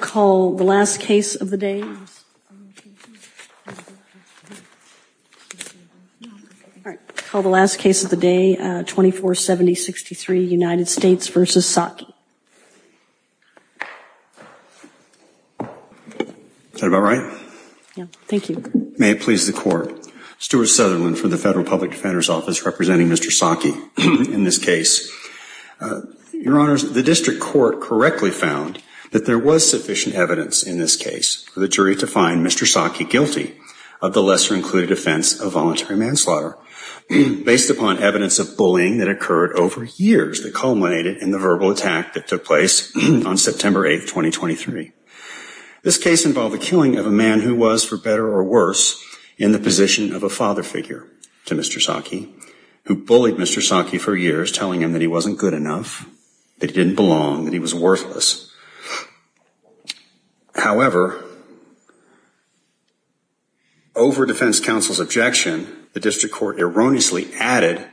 Call the last case of the day Call the last case of the day 2470 63 United States versus Saki Said all right Thank you. May it please the court Stuart Sutherland for the Federal Public Defender's Office representing. Mr. Saki in this case Your honors the district court correctly found that there was sufficient evidence in this case for the jury to find. Mr Saki guilty of the lesser included offense of voluntary manslaughter Based upon evidence of bullying that occurred over years that culminated in the verbal attack that took place on September 8th 2023 This case involved the killing of a man who was for better or worse in the position of a father figure to mr Saki who bullied mr. Saki for years telling him that he wasn't good enough. They didn't belong and he was worthless However Over defense counsel's objection the district court erroneously added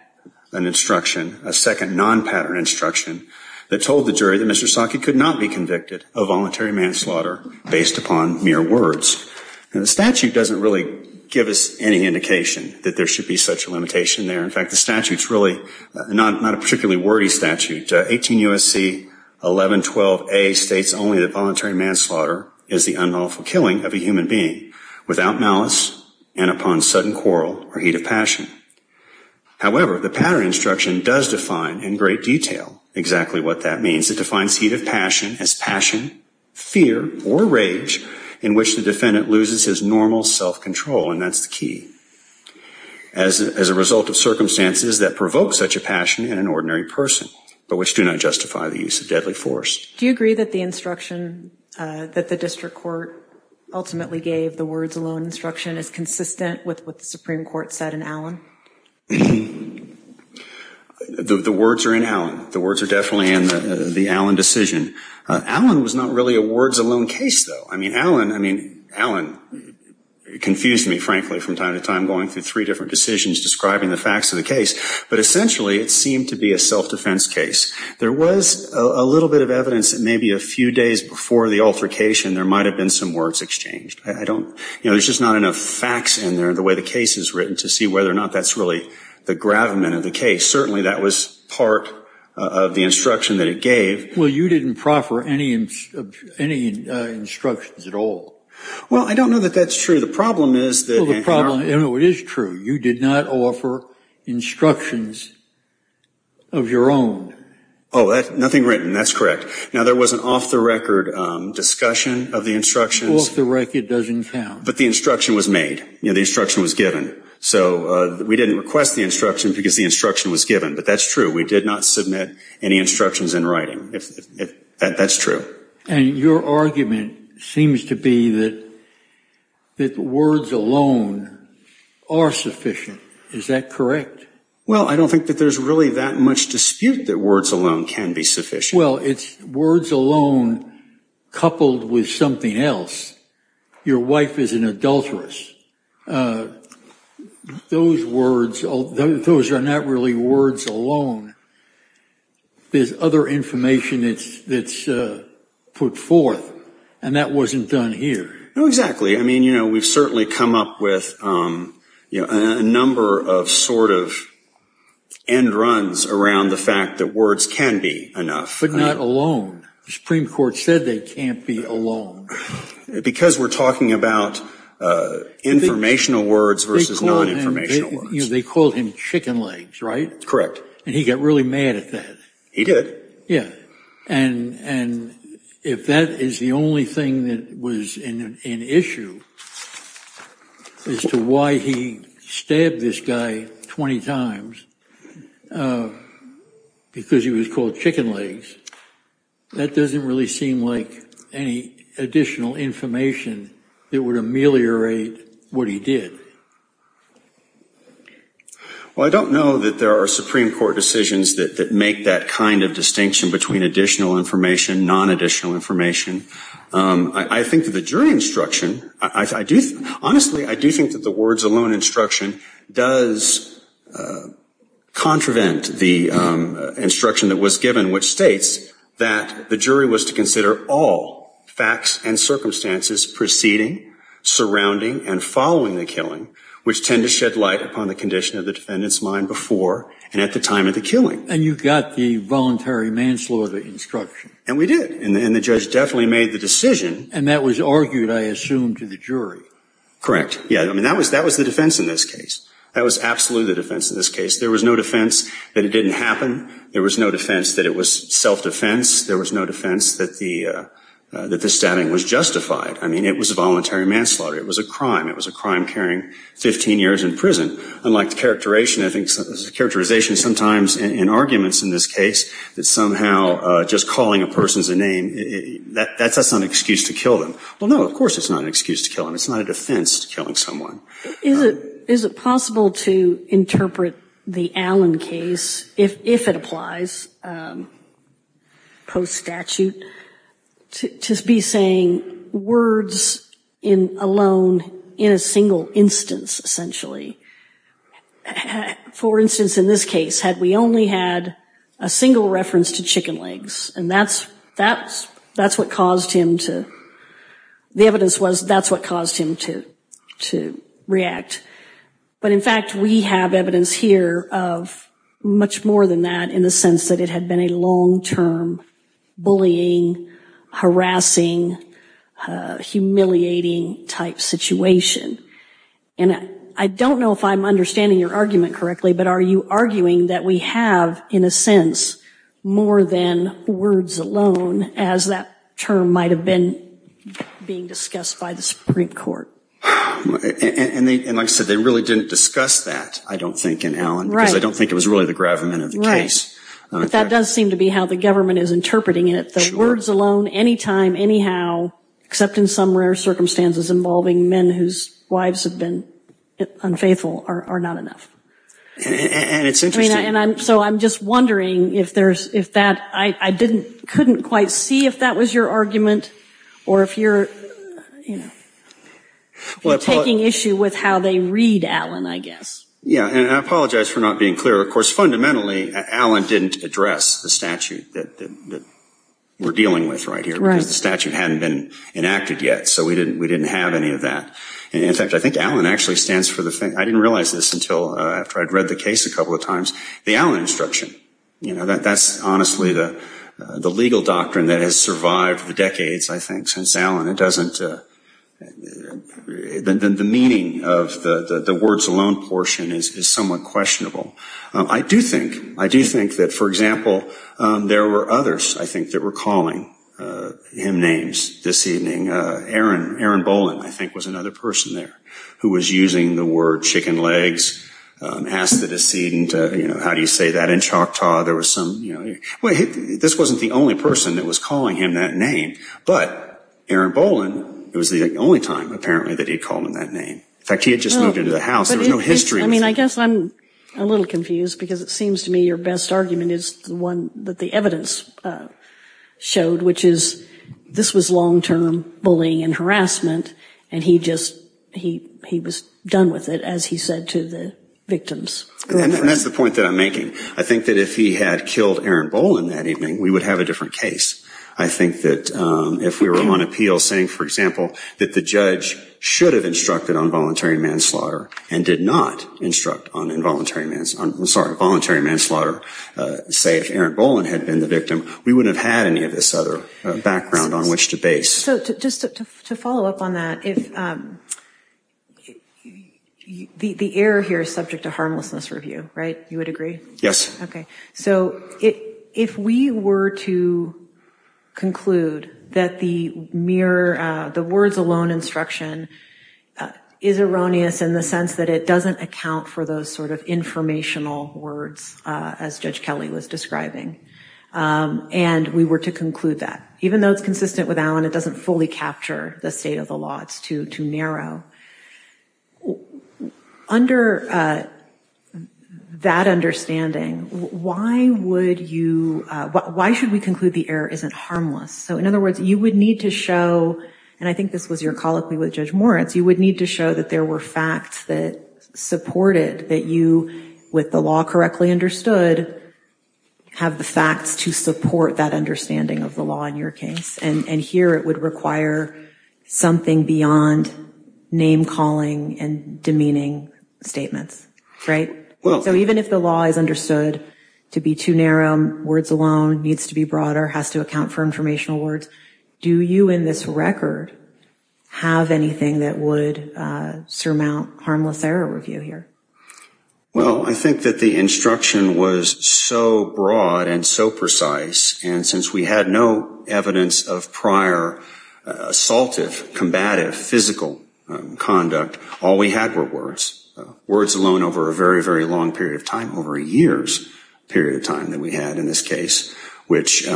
an Instruction a second non-pattern instruction that told the jury that mr Saki could not be convicted of voluntary manslaughter based upon mere words And the statute doesn't really give us any indication that there should be such a limitation there In fact, the statutes really not not a particularly wordy statute 18 USC 11 12 a states only the voluntary manslaughter is the unlawful killing of a human being without malice and upon sudden quarrel or heat of passion However, the pattern instruction does define in great detail exactly what that means. It defines heat of passion as passion Fear or rage in which the defendant loses his normal self-control and that's the key as As a result of circumstances that provoke such a passion in an ordinary person But which do not justify the use of deadly force. Do you agree that the instruction that the district court? Ultimately gave the words alone instruction is consistent with what the Supreme Court said in Allen The Words are in Allen. The words are definitely in the Allen decision. Allen was not really a words alone case though I mean Allen, I mean Allen Confused me frankly from time to time going through three different decisions describing the facts of the case But essentially it seemed to be a self-defense case There was a little bit of evidence that maybe a few days before the altercation there might have been some words exchanged I don't you know, there's just not enough facts in there the way the case is written to see whether or not That's really the gravamen of the case. Certainly. That was part of the instruction that it gave. Well, you didn't proffer any any Instructions at all. Well, I don't know that that's true. The problem is the problem. You know, it is true. You did not offer instructions of Your own. Oh, that's nothing written. That's correct. Now. There was an off-the-record Discussion of the instructions the record doesn't count but the instruction was made You know, the instruction was given so we didn't request the instruction because the instruction was given but that's true We did not submit any instructions in writing if that's true and your argument seems to be that that the words alone Are sufficient. Is that correct? Well, I don't think that there's really that much dispute that words alone can be sufficient Well, it's words alone Coupled with something else Your wife is an adulteress Those words, those are not really words alone There's other information. It's that's Put forth and that wasn't done here. No exactly. I mean, you know, we've certainly come up with you know a number of sort of End-runs around the fact that words can be enough but not alone. The Supreme Court said they can't be alone because we're talking about Informational words versus non-informational words. They called him chicken legs, right? Correct, and he got really mad at that. He did. Yeah, and and If that is the only thing that was in an issue As to why he stabbed this guy 20 times Because he was called chicken legs That doesn't really seem like any additional information That would ameliorate what he did Well, I don't know that there are Supreme Court decisions that make that kind of distinction between additional information non-additional information I think that the jury instruction. I do honestly I do think that the words alone instruction does Contravent the Instruction that was given which states that the jury was to consider all facts and circumstances preceding Surrounding and following the killing which tend to shed light upon the condition of the defendants mind before and at the time of the killing And you got the voluntary manslaughter instruction and we did and the judge definitely made the decision and that was argued I assumed to the jury correct. Yeah, I mean that was that was the defense in this case That was absolutely the defense in this case. There was no defense that it didn't happen There was no defense that it was self-defense. There was no defense that the That the stabbing was justified. I mean it was a voluntary manslaughter. It was a crime It was a crime carrying 15 years in prison unlike the characterization I think the characterization sometimes in arguments in this case that somehow just calling a person's a name That that's that's not an excuse to kill them. Well, no, of course, it's not an excuse to kill him It's not a defense to killing someone. Is it is it possible to interpret the Allen case if it applies? Post statute To be saying words in alone in a single instance essentially For instance in this case had we only had a single reference to chicken legs and that's that's that's what caused him to The evidence was that's what caused him to to react but in fact, we have evidence here of Much more than that in the sense that it had been a long-term Bullying harassing Humiliating type situation and I don't know if I'm understanding your argument correctly But are you arguing that we have in a sense? More than words alone as that term might have been being discussed by the Supreme Court And they and I said they really didn't discuss that I don't think in Allen I don't think it was really the gravamen of the race But that does seem to be how the government is interpreting it the words alone anytime. Anyhow except in some rare circumstances involving men whose wives have been unfaithful are not enough And it's interesting and I'm so I'm just wondering if there's if that I I didn't couldn't quite see if that was your argument or if you're you know Taking issue with how they read Allen, I guess. Yeah, and I apologize for not being clear of course fundamentally Allen didn't address the statute that We're dealing with right here because the statute hadn't been enacted yet So we didn't we didn't have any of that In fact, I think Allen actually stands for the thing I didn't realize this until after I'd read the case a couple of times the Allen instruction, you know That that's honestly the the legal doctrine that has survived the decades. I think since Allen it doesn't And then the meaning of the the words alone portion is somewhat questionable I do think I do think that for example There were others I think that were calling Him names this evening Aaron Aaron Boland. I think was another person there who was using the word chicken legs Asked the decedent, you know, how do you say that in Choctaw? There was some you know, well, this wasn't the only person that was calling him that name But Aaron Boland it was the only time apparently that he called him that name. In fact, he had just moved into the house There was no history I mean, I guess I'm a little confused because it seems to me your best argument is the one that the evidence showed which is this was long-term bullying and harassment and he just He he was done with it as he said to the victims and that's the point that I'm making I think that if he had killed Aaron Boland that evening we would have a different case. I think that If we were on appeal saying for example that the judge should have instructed on voluntary manslaughter and did not instruct on involuntary manslaughter voluntary manslaughter Say if Aaron Boland had been the victim we wouldn't have had any of this other background on which to base so just to follow up on that if The the air here is subject to harmlessness review, right you would agree. Yes. Okay, so it if we were to Conclude that the mere the words alone instruction Is erroneous in the sense that it doesn't account for those sort of informational words as Judge Kelly was describing And we were to conclude that even though it's consistent with Alan. It doesn't fully capture the state of the law. It's too too narrow Under That understanding Why would you Why should we conclude the error isn't harmless? So in other words, you would need to show and I think this was your colloquy with Judge Moritz You would need to show that there were facts that Supported that you with the law correctly understood Have the facts to support that understanding of the law in your case and and here it would require something beyond name-calling and demeaning Statements, right? Well, so even if the law is understood to be too narrow words alone needs to be broader has to account for informational words Do you in this record? Have anything that would surmount harmless error review here Well, I think that the instruction was so broad and so precise and since we had no evidence of prior assaultive combative physical Conduct all we had were words words alone over a very very long period of time over a year's period of time that we had in this case, which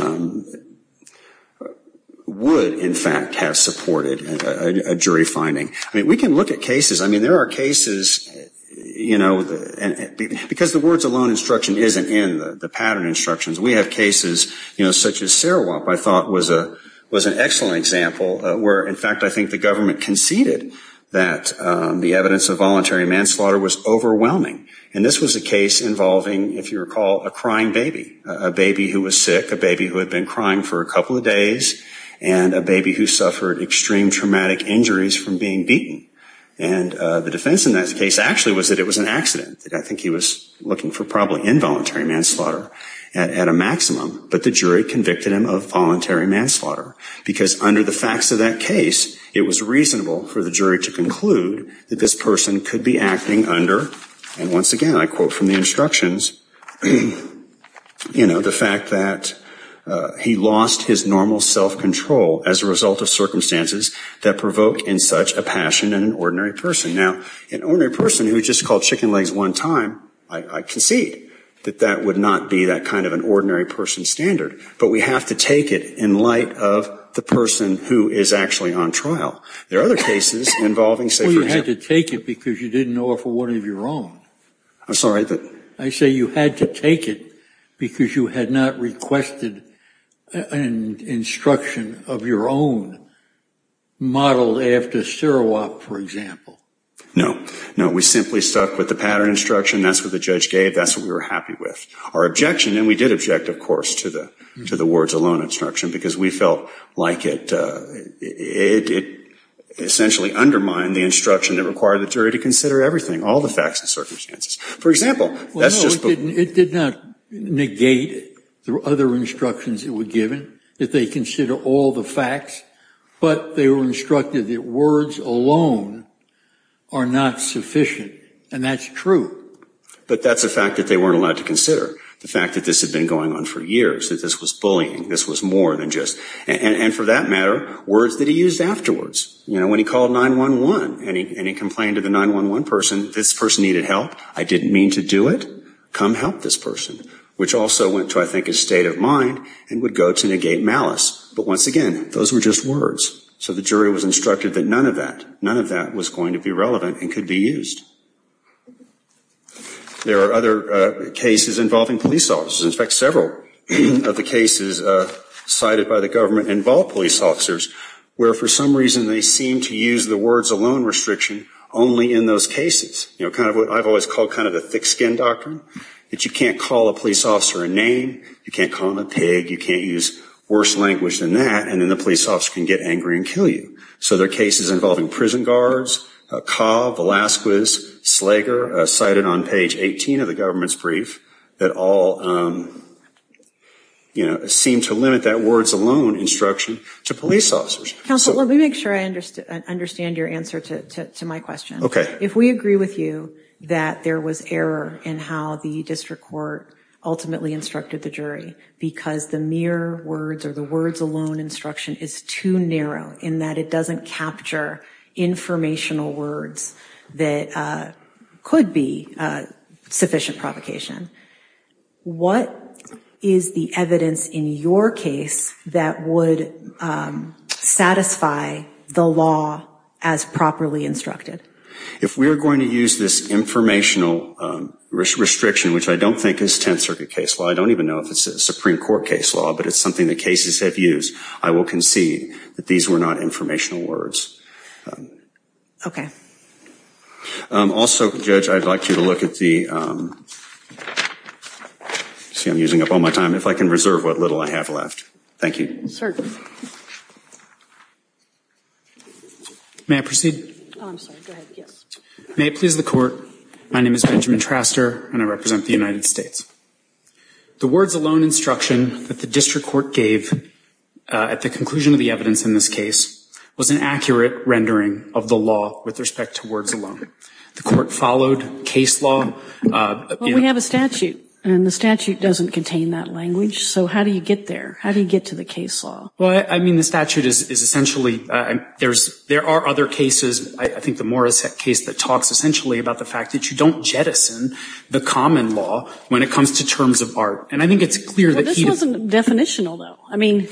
Would in fact have supported a jury finding I mean we can look at cases, I mean there are cases You know Because the words alone instruction isn't in the pattern instructions. We have cases, you know, such as Sarawak I thought was a was an excellent example where in fact, I think the government conceded that the evidence of voluntary manslaughter was Overwhelming and this was a case involving if you recall a crying baby a baby who was sick a baby who had been crying for a couple of days and a baby who suffered extreme traumatic injuries from being beaten and The defense in that case actually was that it was an accident I think he was looking for probably involuntary manslaughter at a maximum But the jury convicted him of voluntary manslaughter because under the facts of that case It was reasonable for the jury to conclude that this person could be acting under and once again, I quote from the instructions You know the fact that He lost his normal self-control as a result of circumstances that provoke in such a passion and an ordinary person now An ordinary person who just called chicken legs one time Concede that that would not be that kind of an ordinary person standard But we have to take it in light of the person who is actually on trial There are other cases involving say you had to take it because you didn't know if one of your own I'm sorry that I say you had to take it because you had not requested an instruction of your own Modeled after Sarawak for example, no, no, we simply stuck with the pattern instruction. That's what the judge gave That's what we were happy with our objection And we did object of course to the to the words alone instruction because we felt like it it Essentially undermined the instruction that required the jury to consider everything all the facts and circumstances. For example, that's just it did not Negate the other instructions that were given that they consider all the facts But they were instructed that words alone are Not sufficient and that's true But that's a fact that they weren't allowed to consider The fact that this had been going on for years that this was bullying This was more than just and for that matter words that he used afterwards You know when he called 9-1-1 and he complained to the 9-1-1 person this person needed help I didn't mean to do it come help this person which also went to I think his state of mind and would go to negate Malice, but once again, those were just words So the jury was instructed that none of that none of that was going to be relevant and could be used There are other cases involving police officers in fact several of the cases Cited by the government involved police officers where for some reason they seem to use the words alone restriction only in those cases You know kind of what I've always called kind of a thick-skinned doctrine that you can't call a police officer a name You can't call him a pig you can't use worse language than that and then the police officer can get angry and kill you So there are cases involving prison guards Cobb, Velazquez, Slager cited on page 18 of the government's brief that all You know seem to limit that words alone instruction to police officers Counsel let me make sure I understand your answer to my question Okay If we agree with you that there was error in how the district court Ultimately instructed the jury because the mere words or the words alone instruction is too narrow in that it doesn't capture informational words that could be sufficient provocation What is the evidence in your case that would? Satisfy the law as properly instructed if we're going to use this informational Restriction which I don't think is 10th Circuit case Well, I don't even know if it's a Supreme Court case law, but it's something that cases have used I will concede that these were not informational words Okay Also judge I'd like you to look at the See I'm using up all my time if I can reserve what little I have left. Thank you I Proceed May please the court. My name is Benjamin Traster and I represent the United States the words alone instruction that the district court gave At the conclusion of the evidence in this case was an accurate rendering of the law with respect to words alone The court followed case law We have a statute and the statute doesn't contain that language. So how do you get there? How do you get to the case law? Well, I mean the statute is essentially and there's there are other cases I think the Morris case that talks essentially about the fact that you don't jettison The common law when it comes to terms of art and I think it's clear that he doesn't definition although I mean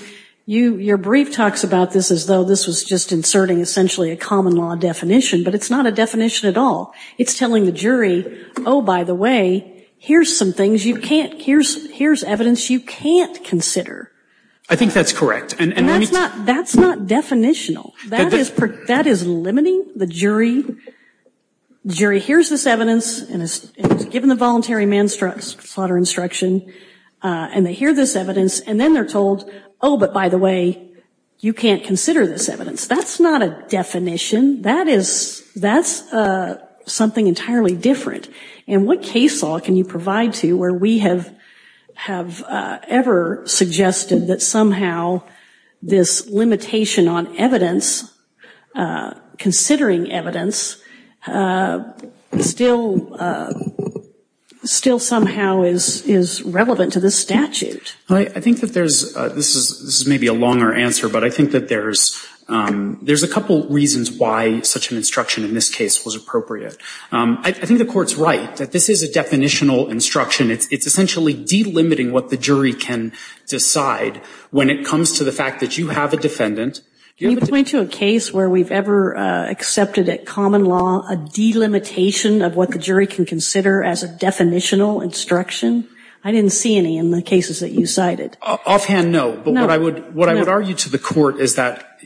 You your brief talks about this as though this was just inserting essentially a common law definition, but it's not a definition at all It's telling the jury. Oh, by the way, here's some things you can't here's here's evidence. You can't consider I think that's correct. And that's not that's not definitional. That is perfect. That is limiting the jury Jury, here's this evidence and it's given the voluntary man struck slaughter instruction And they hear this evidence and then they're told oh, but by the way, you can't consider this evidence. That's not a definition that is that's a something entirely different and what case law can you provide to where we have have Ever suggested that somehow this limitation on evidence Considering evidence Still Still somehow is is relevant to this statute. I think that there's this is this is maybe a longer answer, but I think that there's There's a couple reasons why such an instruction in this case was appropriate I think the court's right that this is a definitional instruction It's it's essentially delimiting what the jury can decide when it comes to the fact that you have a defendant Do you point to a case where we've ever? Accepted at common law a delimitation of what the jury can consider as a definitional instruction I didn't see any in the cases that you cited offhand No But what I would what I would argue to the court is that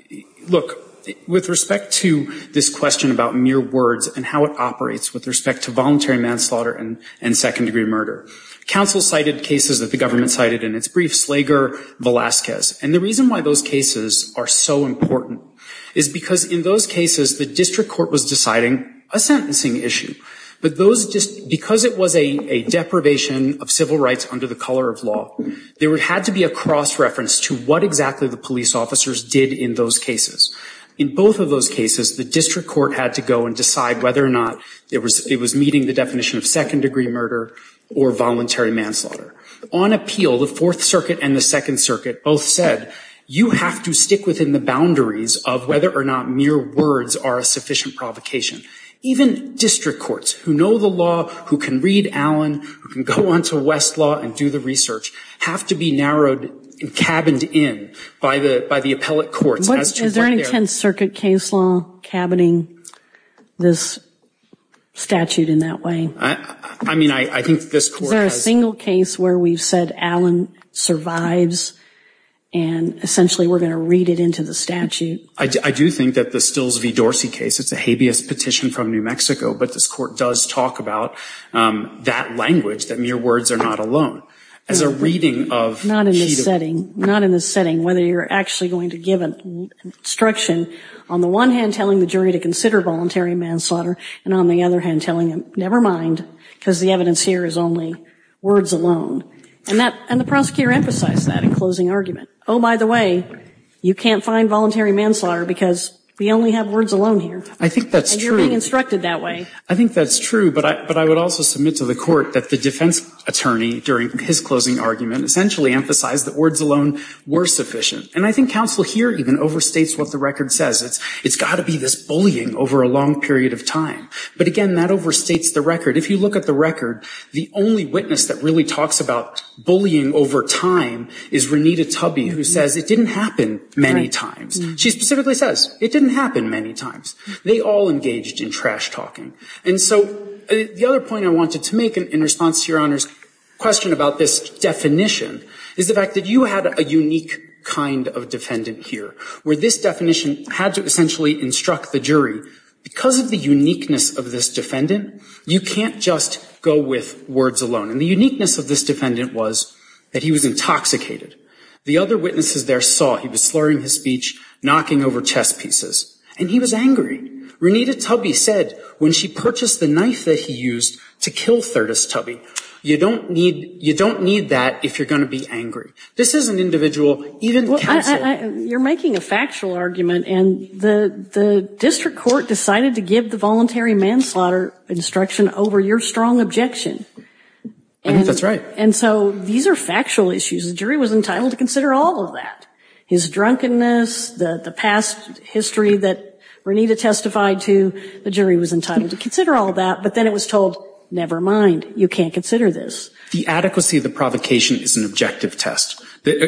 Look with respect to this question about mere words and how it operates with respect to voluntary manslaughter and and second-degree murder counsel cited cases that the government cited in its brief Slager Velazquez and the reason why those cases are so important is because in those cases the district court was deciding a Sentencing issue, but those just because it was a a deprivation of civil rights under the color of law There would had to be a cross-reference to what exactly the police officers did in those cases in both of those cases the district court had to go and decide whether or not it was it was meeting the definition of second-degree murder or voluntary manslaughter on appeal the Fourth Circuit and the Second Circuit both said You have to stick within the boundaries of whether or not mere words are a sufficient provocation Even district courts who know the law who can read Allen who can go on to West law and do the research have to be Narrowed and cabined in by the by the appellate courts. What is there any 10th Circuit case law cabining? this Statute in that way. I mean, I think there's a single case where we've said Allen survives and Essentially, we're gonna read it into the statute. I do think that the Stills v. Dorsey case It's a habeas petition from New Mexico, but this court does talk about That language that mere words are not alone as a reading of not in this setting not in this setting whether you're actually going to give an Instruction on the one hand telling the jury to consider voluntary manslaughter and on the other hand telling him never mind Because the evidence here is only words alone and that and the prosecutor emphasized that in closing argument. Oh, by the way You can't find voluntary manslaughter because we only have words alone here. I think that's true being instructed that way I think that's true But I but I would also submit to the court that the defense attorney during his closing argument essentially emphasized that words alone Were sufficient and I think counsel here even overstates what the record says It's it's got to be this bullying over a long period of time But again that overstates the record if you look at the record the only witness that really talks about Bullying over time is Renita Tubby who says it didn't happen many times She specifically says it didn't happen many times. They all engaged in trash-talking And so the other point I wanted to make an in response to your honors question about this Definition is the fact that you had a unique kind of defendant here where this definition had to essentially instruct the jury Because of the uniqueness of this defendant You can't just go with words alone and the uniqueness of this defendant was that he was intoxicated The other witnesses there saw he was slurring his speech Knocking over chess pieces and he was angry Renita Tubby said when she purchased the knife that he used to kill Thurtis Tubby You don't need you don't need that if you're going to be angry this is an individual even You're making a factual argument and the the district court decided to give the voluntary manslaughter instruction over your strong objection That's right. And so these are factual issues. The jury was entitled to consider all of that his drunkenness the the past History that Renita testified to the jury was entitled to consider all that but then it was told never mind You can't consider this the adequacy of the provocation is an objective test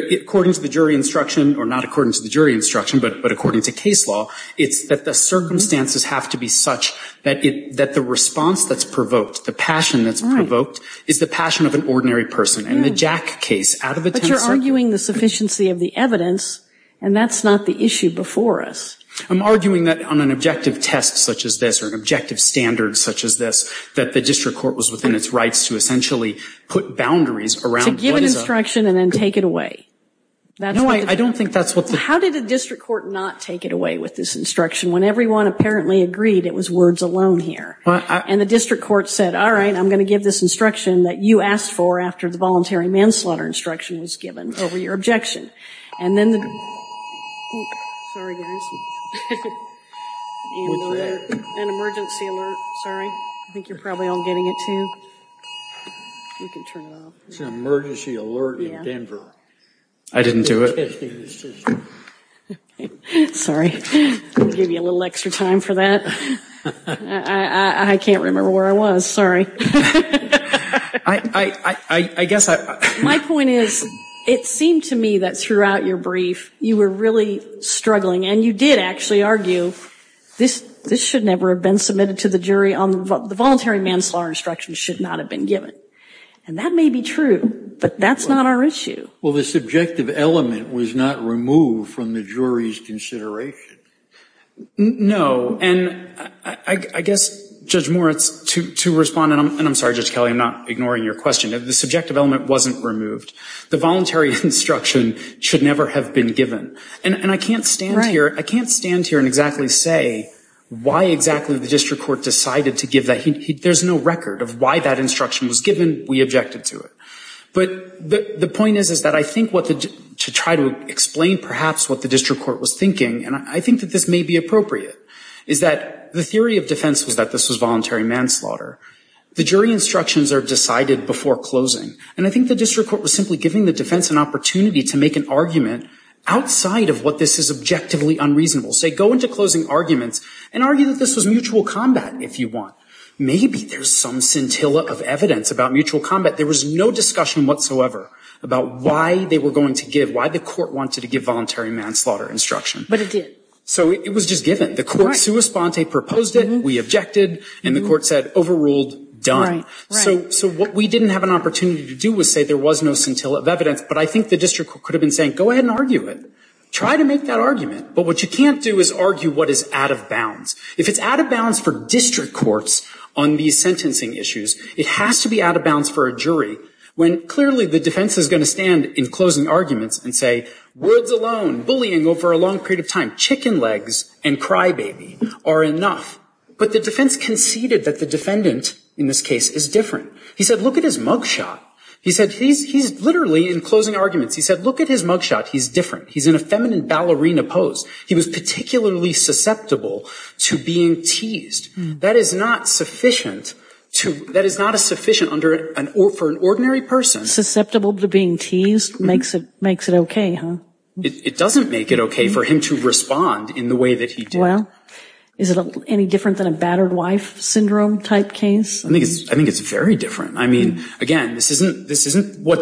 According to the jury instruction or not according to the jury instruction, but but according to case law It's that the circumstances have to be such that it that the response that's provoked the passion That's provoked is the passion of an ordinary person and the Jack case out of the time You're arguing the sufficiency of the evidence and that's not the issue before us I'm arguing that on an objective test such as this or an objective Standards such as this that the district court was within its rights to essentially put boundaries around instruction and then take it away That no, I don't think that's what how did the district court not take it away with this instruction when everyone apparently agreed? It was words alone here But and the district court said all right I'm gonna give this instruction that you asked for after the voluntary manslaughter instruction was given over your objection and then Sorry, I think you're probably all getting it to Emergency alert in Denver. I didn't do it Sorry give you a little extra time for that. I can't remember where I was. Sorry. I Guess my point is it seemed to me that throughout your brief you were really Struggling and you did actually argue this this should never have been submitted to the jury on the voluntary manslaughter instruction should not have been given and That may be true, but that's not our issue. Well, the subjective element was not removed from the jury's consideration No, and I guess judge Moritz to to respond and I'm sorry just Kelly I'm not ignoring your question if the subjective element wasn't removed the voluntary instruction Should never have been given and and I can't stand right here. I can't stand here and exactly say Why exactly the district court decided to give that he there's no record of why that instruction was given we objected to it But the point is is that I think what the to try to explain perhaps what the district court was thinking and I think that This may be appropriate is that the theory of defense was that this was voluntary manslaughter? The jury instructions are decided before closing and I think the district court was simply giving the defense an opportunity to make an argument Outside of what this is objectively unreasonable say go into closing arguments and argue that this was mutual combat if you want Maybe there's some scintilla of evidence about mutual combat There was no discussion whatsoever about why they were going to give why the court wanted to give voluntary manslaughter instruction But it did so it was just given the court sui sponte proposed it We objected and the court said overruled done So so what we didn't have an opportunity to do was say there was no scintilla of evidence But I think the district could have been saying go ahead and argue it try to make that argument But what you can't do is argue What is out of bounds if it's out of bounds for district courts on these sentencing issues? It has to be out of bounds for a jury when clearly the defense is going to stand in closing arguments and say Words alone bullying over a long period of time chicken legs and crybaby are enough But the defense conceded that the defendant in this case is different. He said look at his mugshot He said he's he's literally in closing arguments. He said look at his mugshot. He's different. He's in a feminine ballerina pose He was particularly susceptible to being teased that is not sufficient To that is not a sufficient under an or for an ordinary person Susceptible to being teased makes it makes it okay, huh? It doesn't make it okay for him to respond in the way that he do well Is it any different than a battered wife syndrome type case? I think it's I think it's very different I mean again, this isn't this isn't what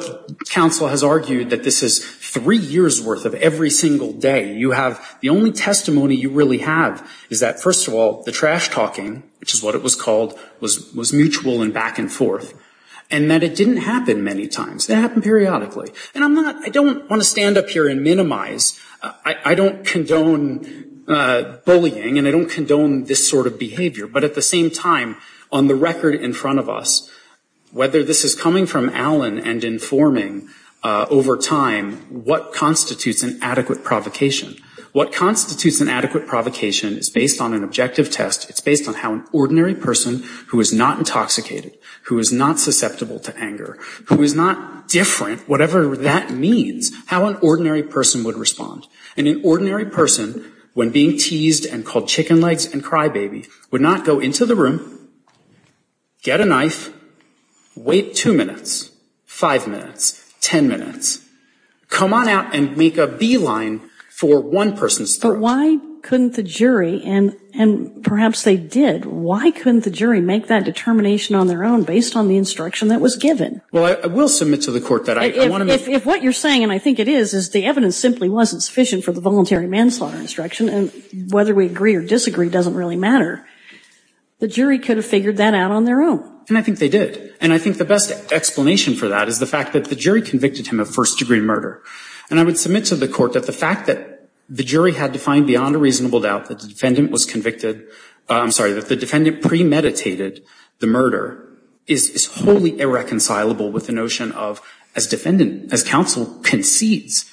counsel has argued that this is three years worth of every single day You have the only testimony you really have is that first of all the trash-talking Which is what it was called was was mutual and back-and-forth and that it didn't happen many times They happen periodically and I'm not I don't want to stand up here and minimize. I don't condone Bullying and I don't condone this sort of behavior, but at the same time on the record in front of us Whether this is coming from Alan and informing Over time what constitutes an adequate provocation what constitutes an adequate provocation is based on an objective test It's based on how an ordinary person who is not intoxicated who is not susceptible to anger who is not different Whatever that means how an ordinary person would respond and an ordinary person When being teased and called chicken legs and crybaby would not go into the room Get a knife Wait two minutes five minutes ten minutes Come on out and make a beeline for one person's throat Why couldn't the jury and and perhaps they did why couldn't the jury make that determination on their own based on the instruction? That was given well I will submit to the court that I want to if what you're saying and I think it is is the evidence simply wasn't Sufficient for the voluntary manslaughter instruction and whether we agree or disagree doesn't really matter The jury could have figured that out on their own and I think they did and I think the best explanation for that is the fact that the jury convicted him of first-degree murder and I would submit to the court that the fact that The jury had to find beyond a reasonable doubt that the defendant was convicted. I'm sorry that the defendant premeditated the murder is Wholly irreconcilable with the notion of as defendant as counsel concedes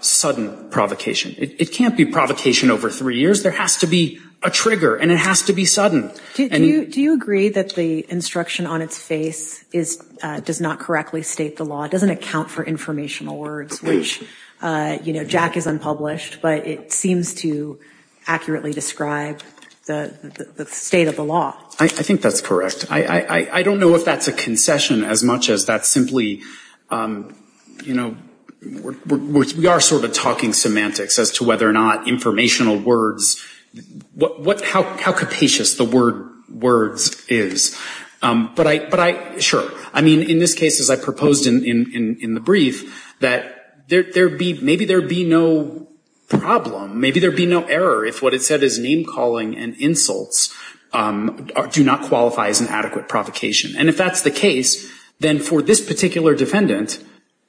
Sudden provocation it can't be provocation over three years there has to be a trigger and it has to be sudden and you do you agree that the instruction on its face is does not correctly state the law doesn't account for informational words, which You know Jack is unpublished, but it seems to accurately describe the State of the law. I think that's correct. I I don't know if that's a concession as much as that simply You know We are sort of talking semantics as to whether or not informational words What what how capacious the word words is? But I but I sure I mean in this case as I proposed in in the brief that there be maybe there be no Problem, maybe there be no error if what it said is name-calling and insults Do not qualify as an adequate provocation and if that's the case then for this particular defendant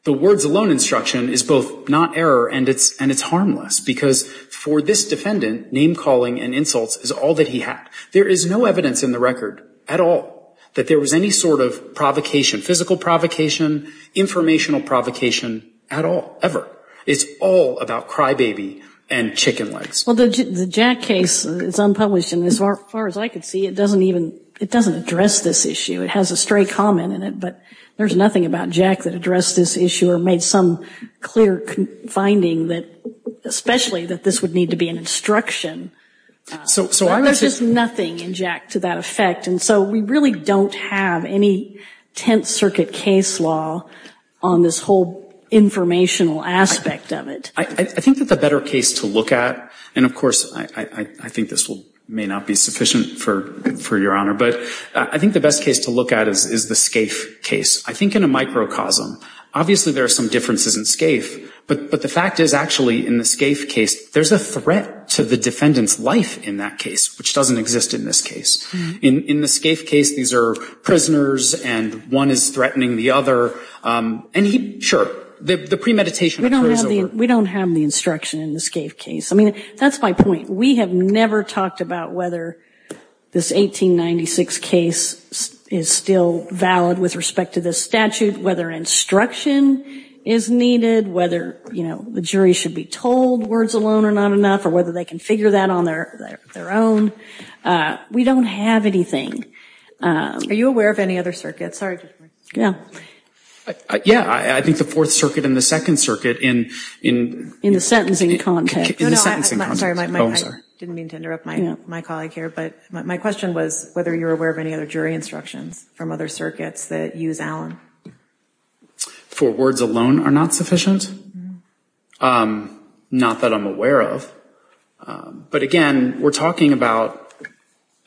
The words alone instruction is both not error and it's and it's harmless because for this defendant Name-calling and insults is all that he had there is no evidence in the record at all that there was any sort of provocation physical provocation Informational provocation at all ever it's all about crybaby and chicken legs The Jack case it's unpublished in this far as I could see it doesn't even it doesn't address this issue It has a stray comment in it, but there's nothing about Jack that addressed this issue or made some clear finding that Especially that this would need to be an instruction So there's just nothing in Jack to that effect. And so we really don't have any Tenth Circuit case law on this whole Informational aspect of it. I think that the better case to look at and of course I I think this will may not be sufficient for for your honor But I think the best case to look at is is the scaife case I think in a microcosm obviously there are some differences in scaife But but the fact is actually in the scaife case There's a threat to the defendants life in that case, which doesn't exist in this case in in the scaife case These are prisoners and one is threatening the other And he sure the premeditation We don't have the instruction in the scaife case. I mean, that's my point. We have never talked about whether This 1896 case is still valid with respect to this statute whether instruction is Needed whether you know, the jury should be told words alone or not enough or whether they can figure that on their their own We don't have anything Are you aware of any other circuits? Sorry? Yeah Yeah, I think the Fourth Circuit in the Second Circuit in in in the sentencing content My colleague here, but my question was whether you're aware of any other jury instructions from other circuits that use Allen For words alone are not sufficient Not that I'm aware of but again, we're talking about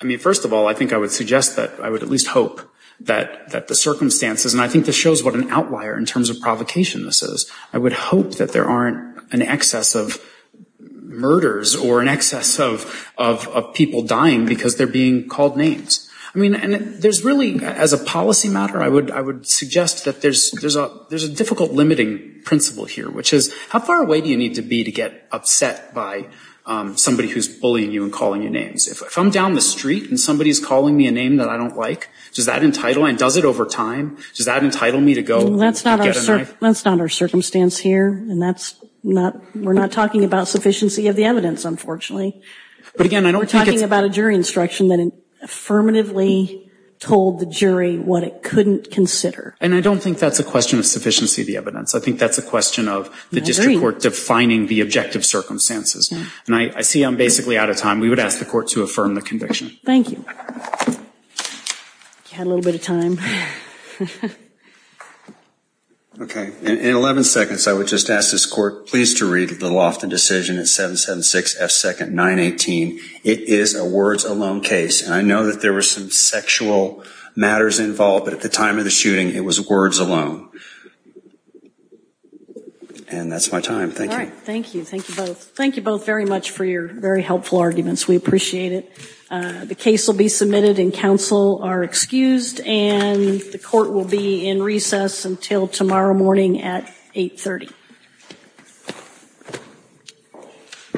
I Mean, first of all, I think I would suggest that I would at least hope that that the circumstances And I think this shows what an outlier in terms of provocation. This is I would hope that there aren't an excess of murders or an excess of People dying because they're being called names. I mean and there's really as a policy matter I would I would suggest that there's there's a there's a difficult limiting principle here Which is how far away do you need to be to get upset by? Somebody who's bullying you and calling you names if I'm down the street and somebody's calling me a name that I don't like Does that entitle and does it over time? Does that entitle me to go? That's not our circumstance here. And that's not we're not talking about sufficiency of the evidence, unfortunately But again, I don't we're talking about a jury instruction that Affirmatively told the jury what it couldn't consider and I don't think that's a question of sufficiency the evidence I think that's a question of the district court defining the objective circumstances and I see I'm basically out of time We would ask the court to affirm the conviction. Thank you Had a little bit of time Okay in 11 seconds I would just ask this court please to read the Lofton decision at 7 7 6 f 2nd 9 18 It is a words alone case and I know that there were some sexual matters involved at the time of the shooting It was words alone And that's my time thank you, thank you, thank you both thank you both very much for your very helpful arguments We appreciate it The case will be submitted and counsel are excused and the court will be in recess until tomorrow morning at 830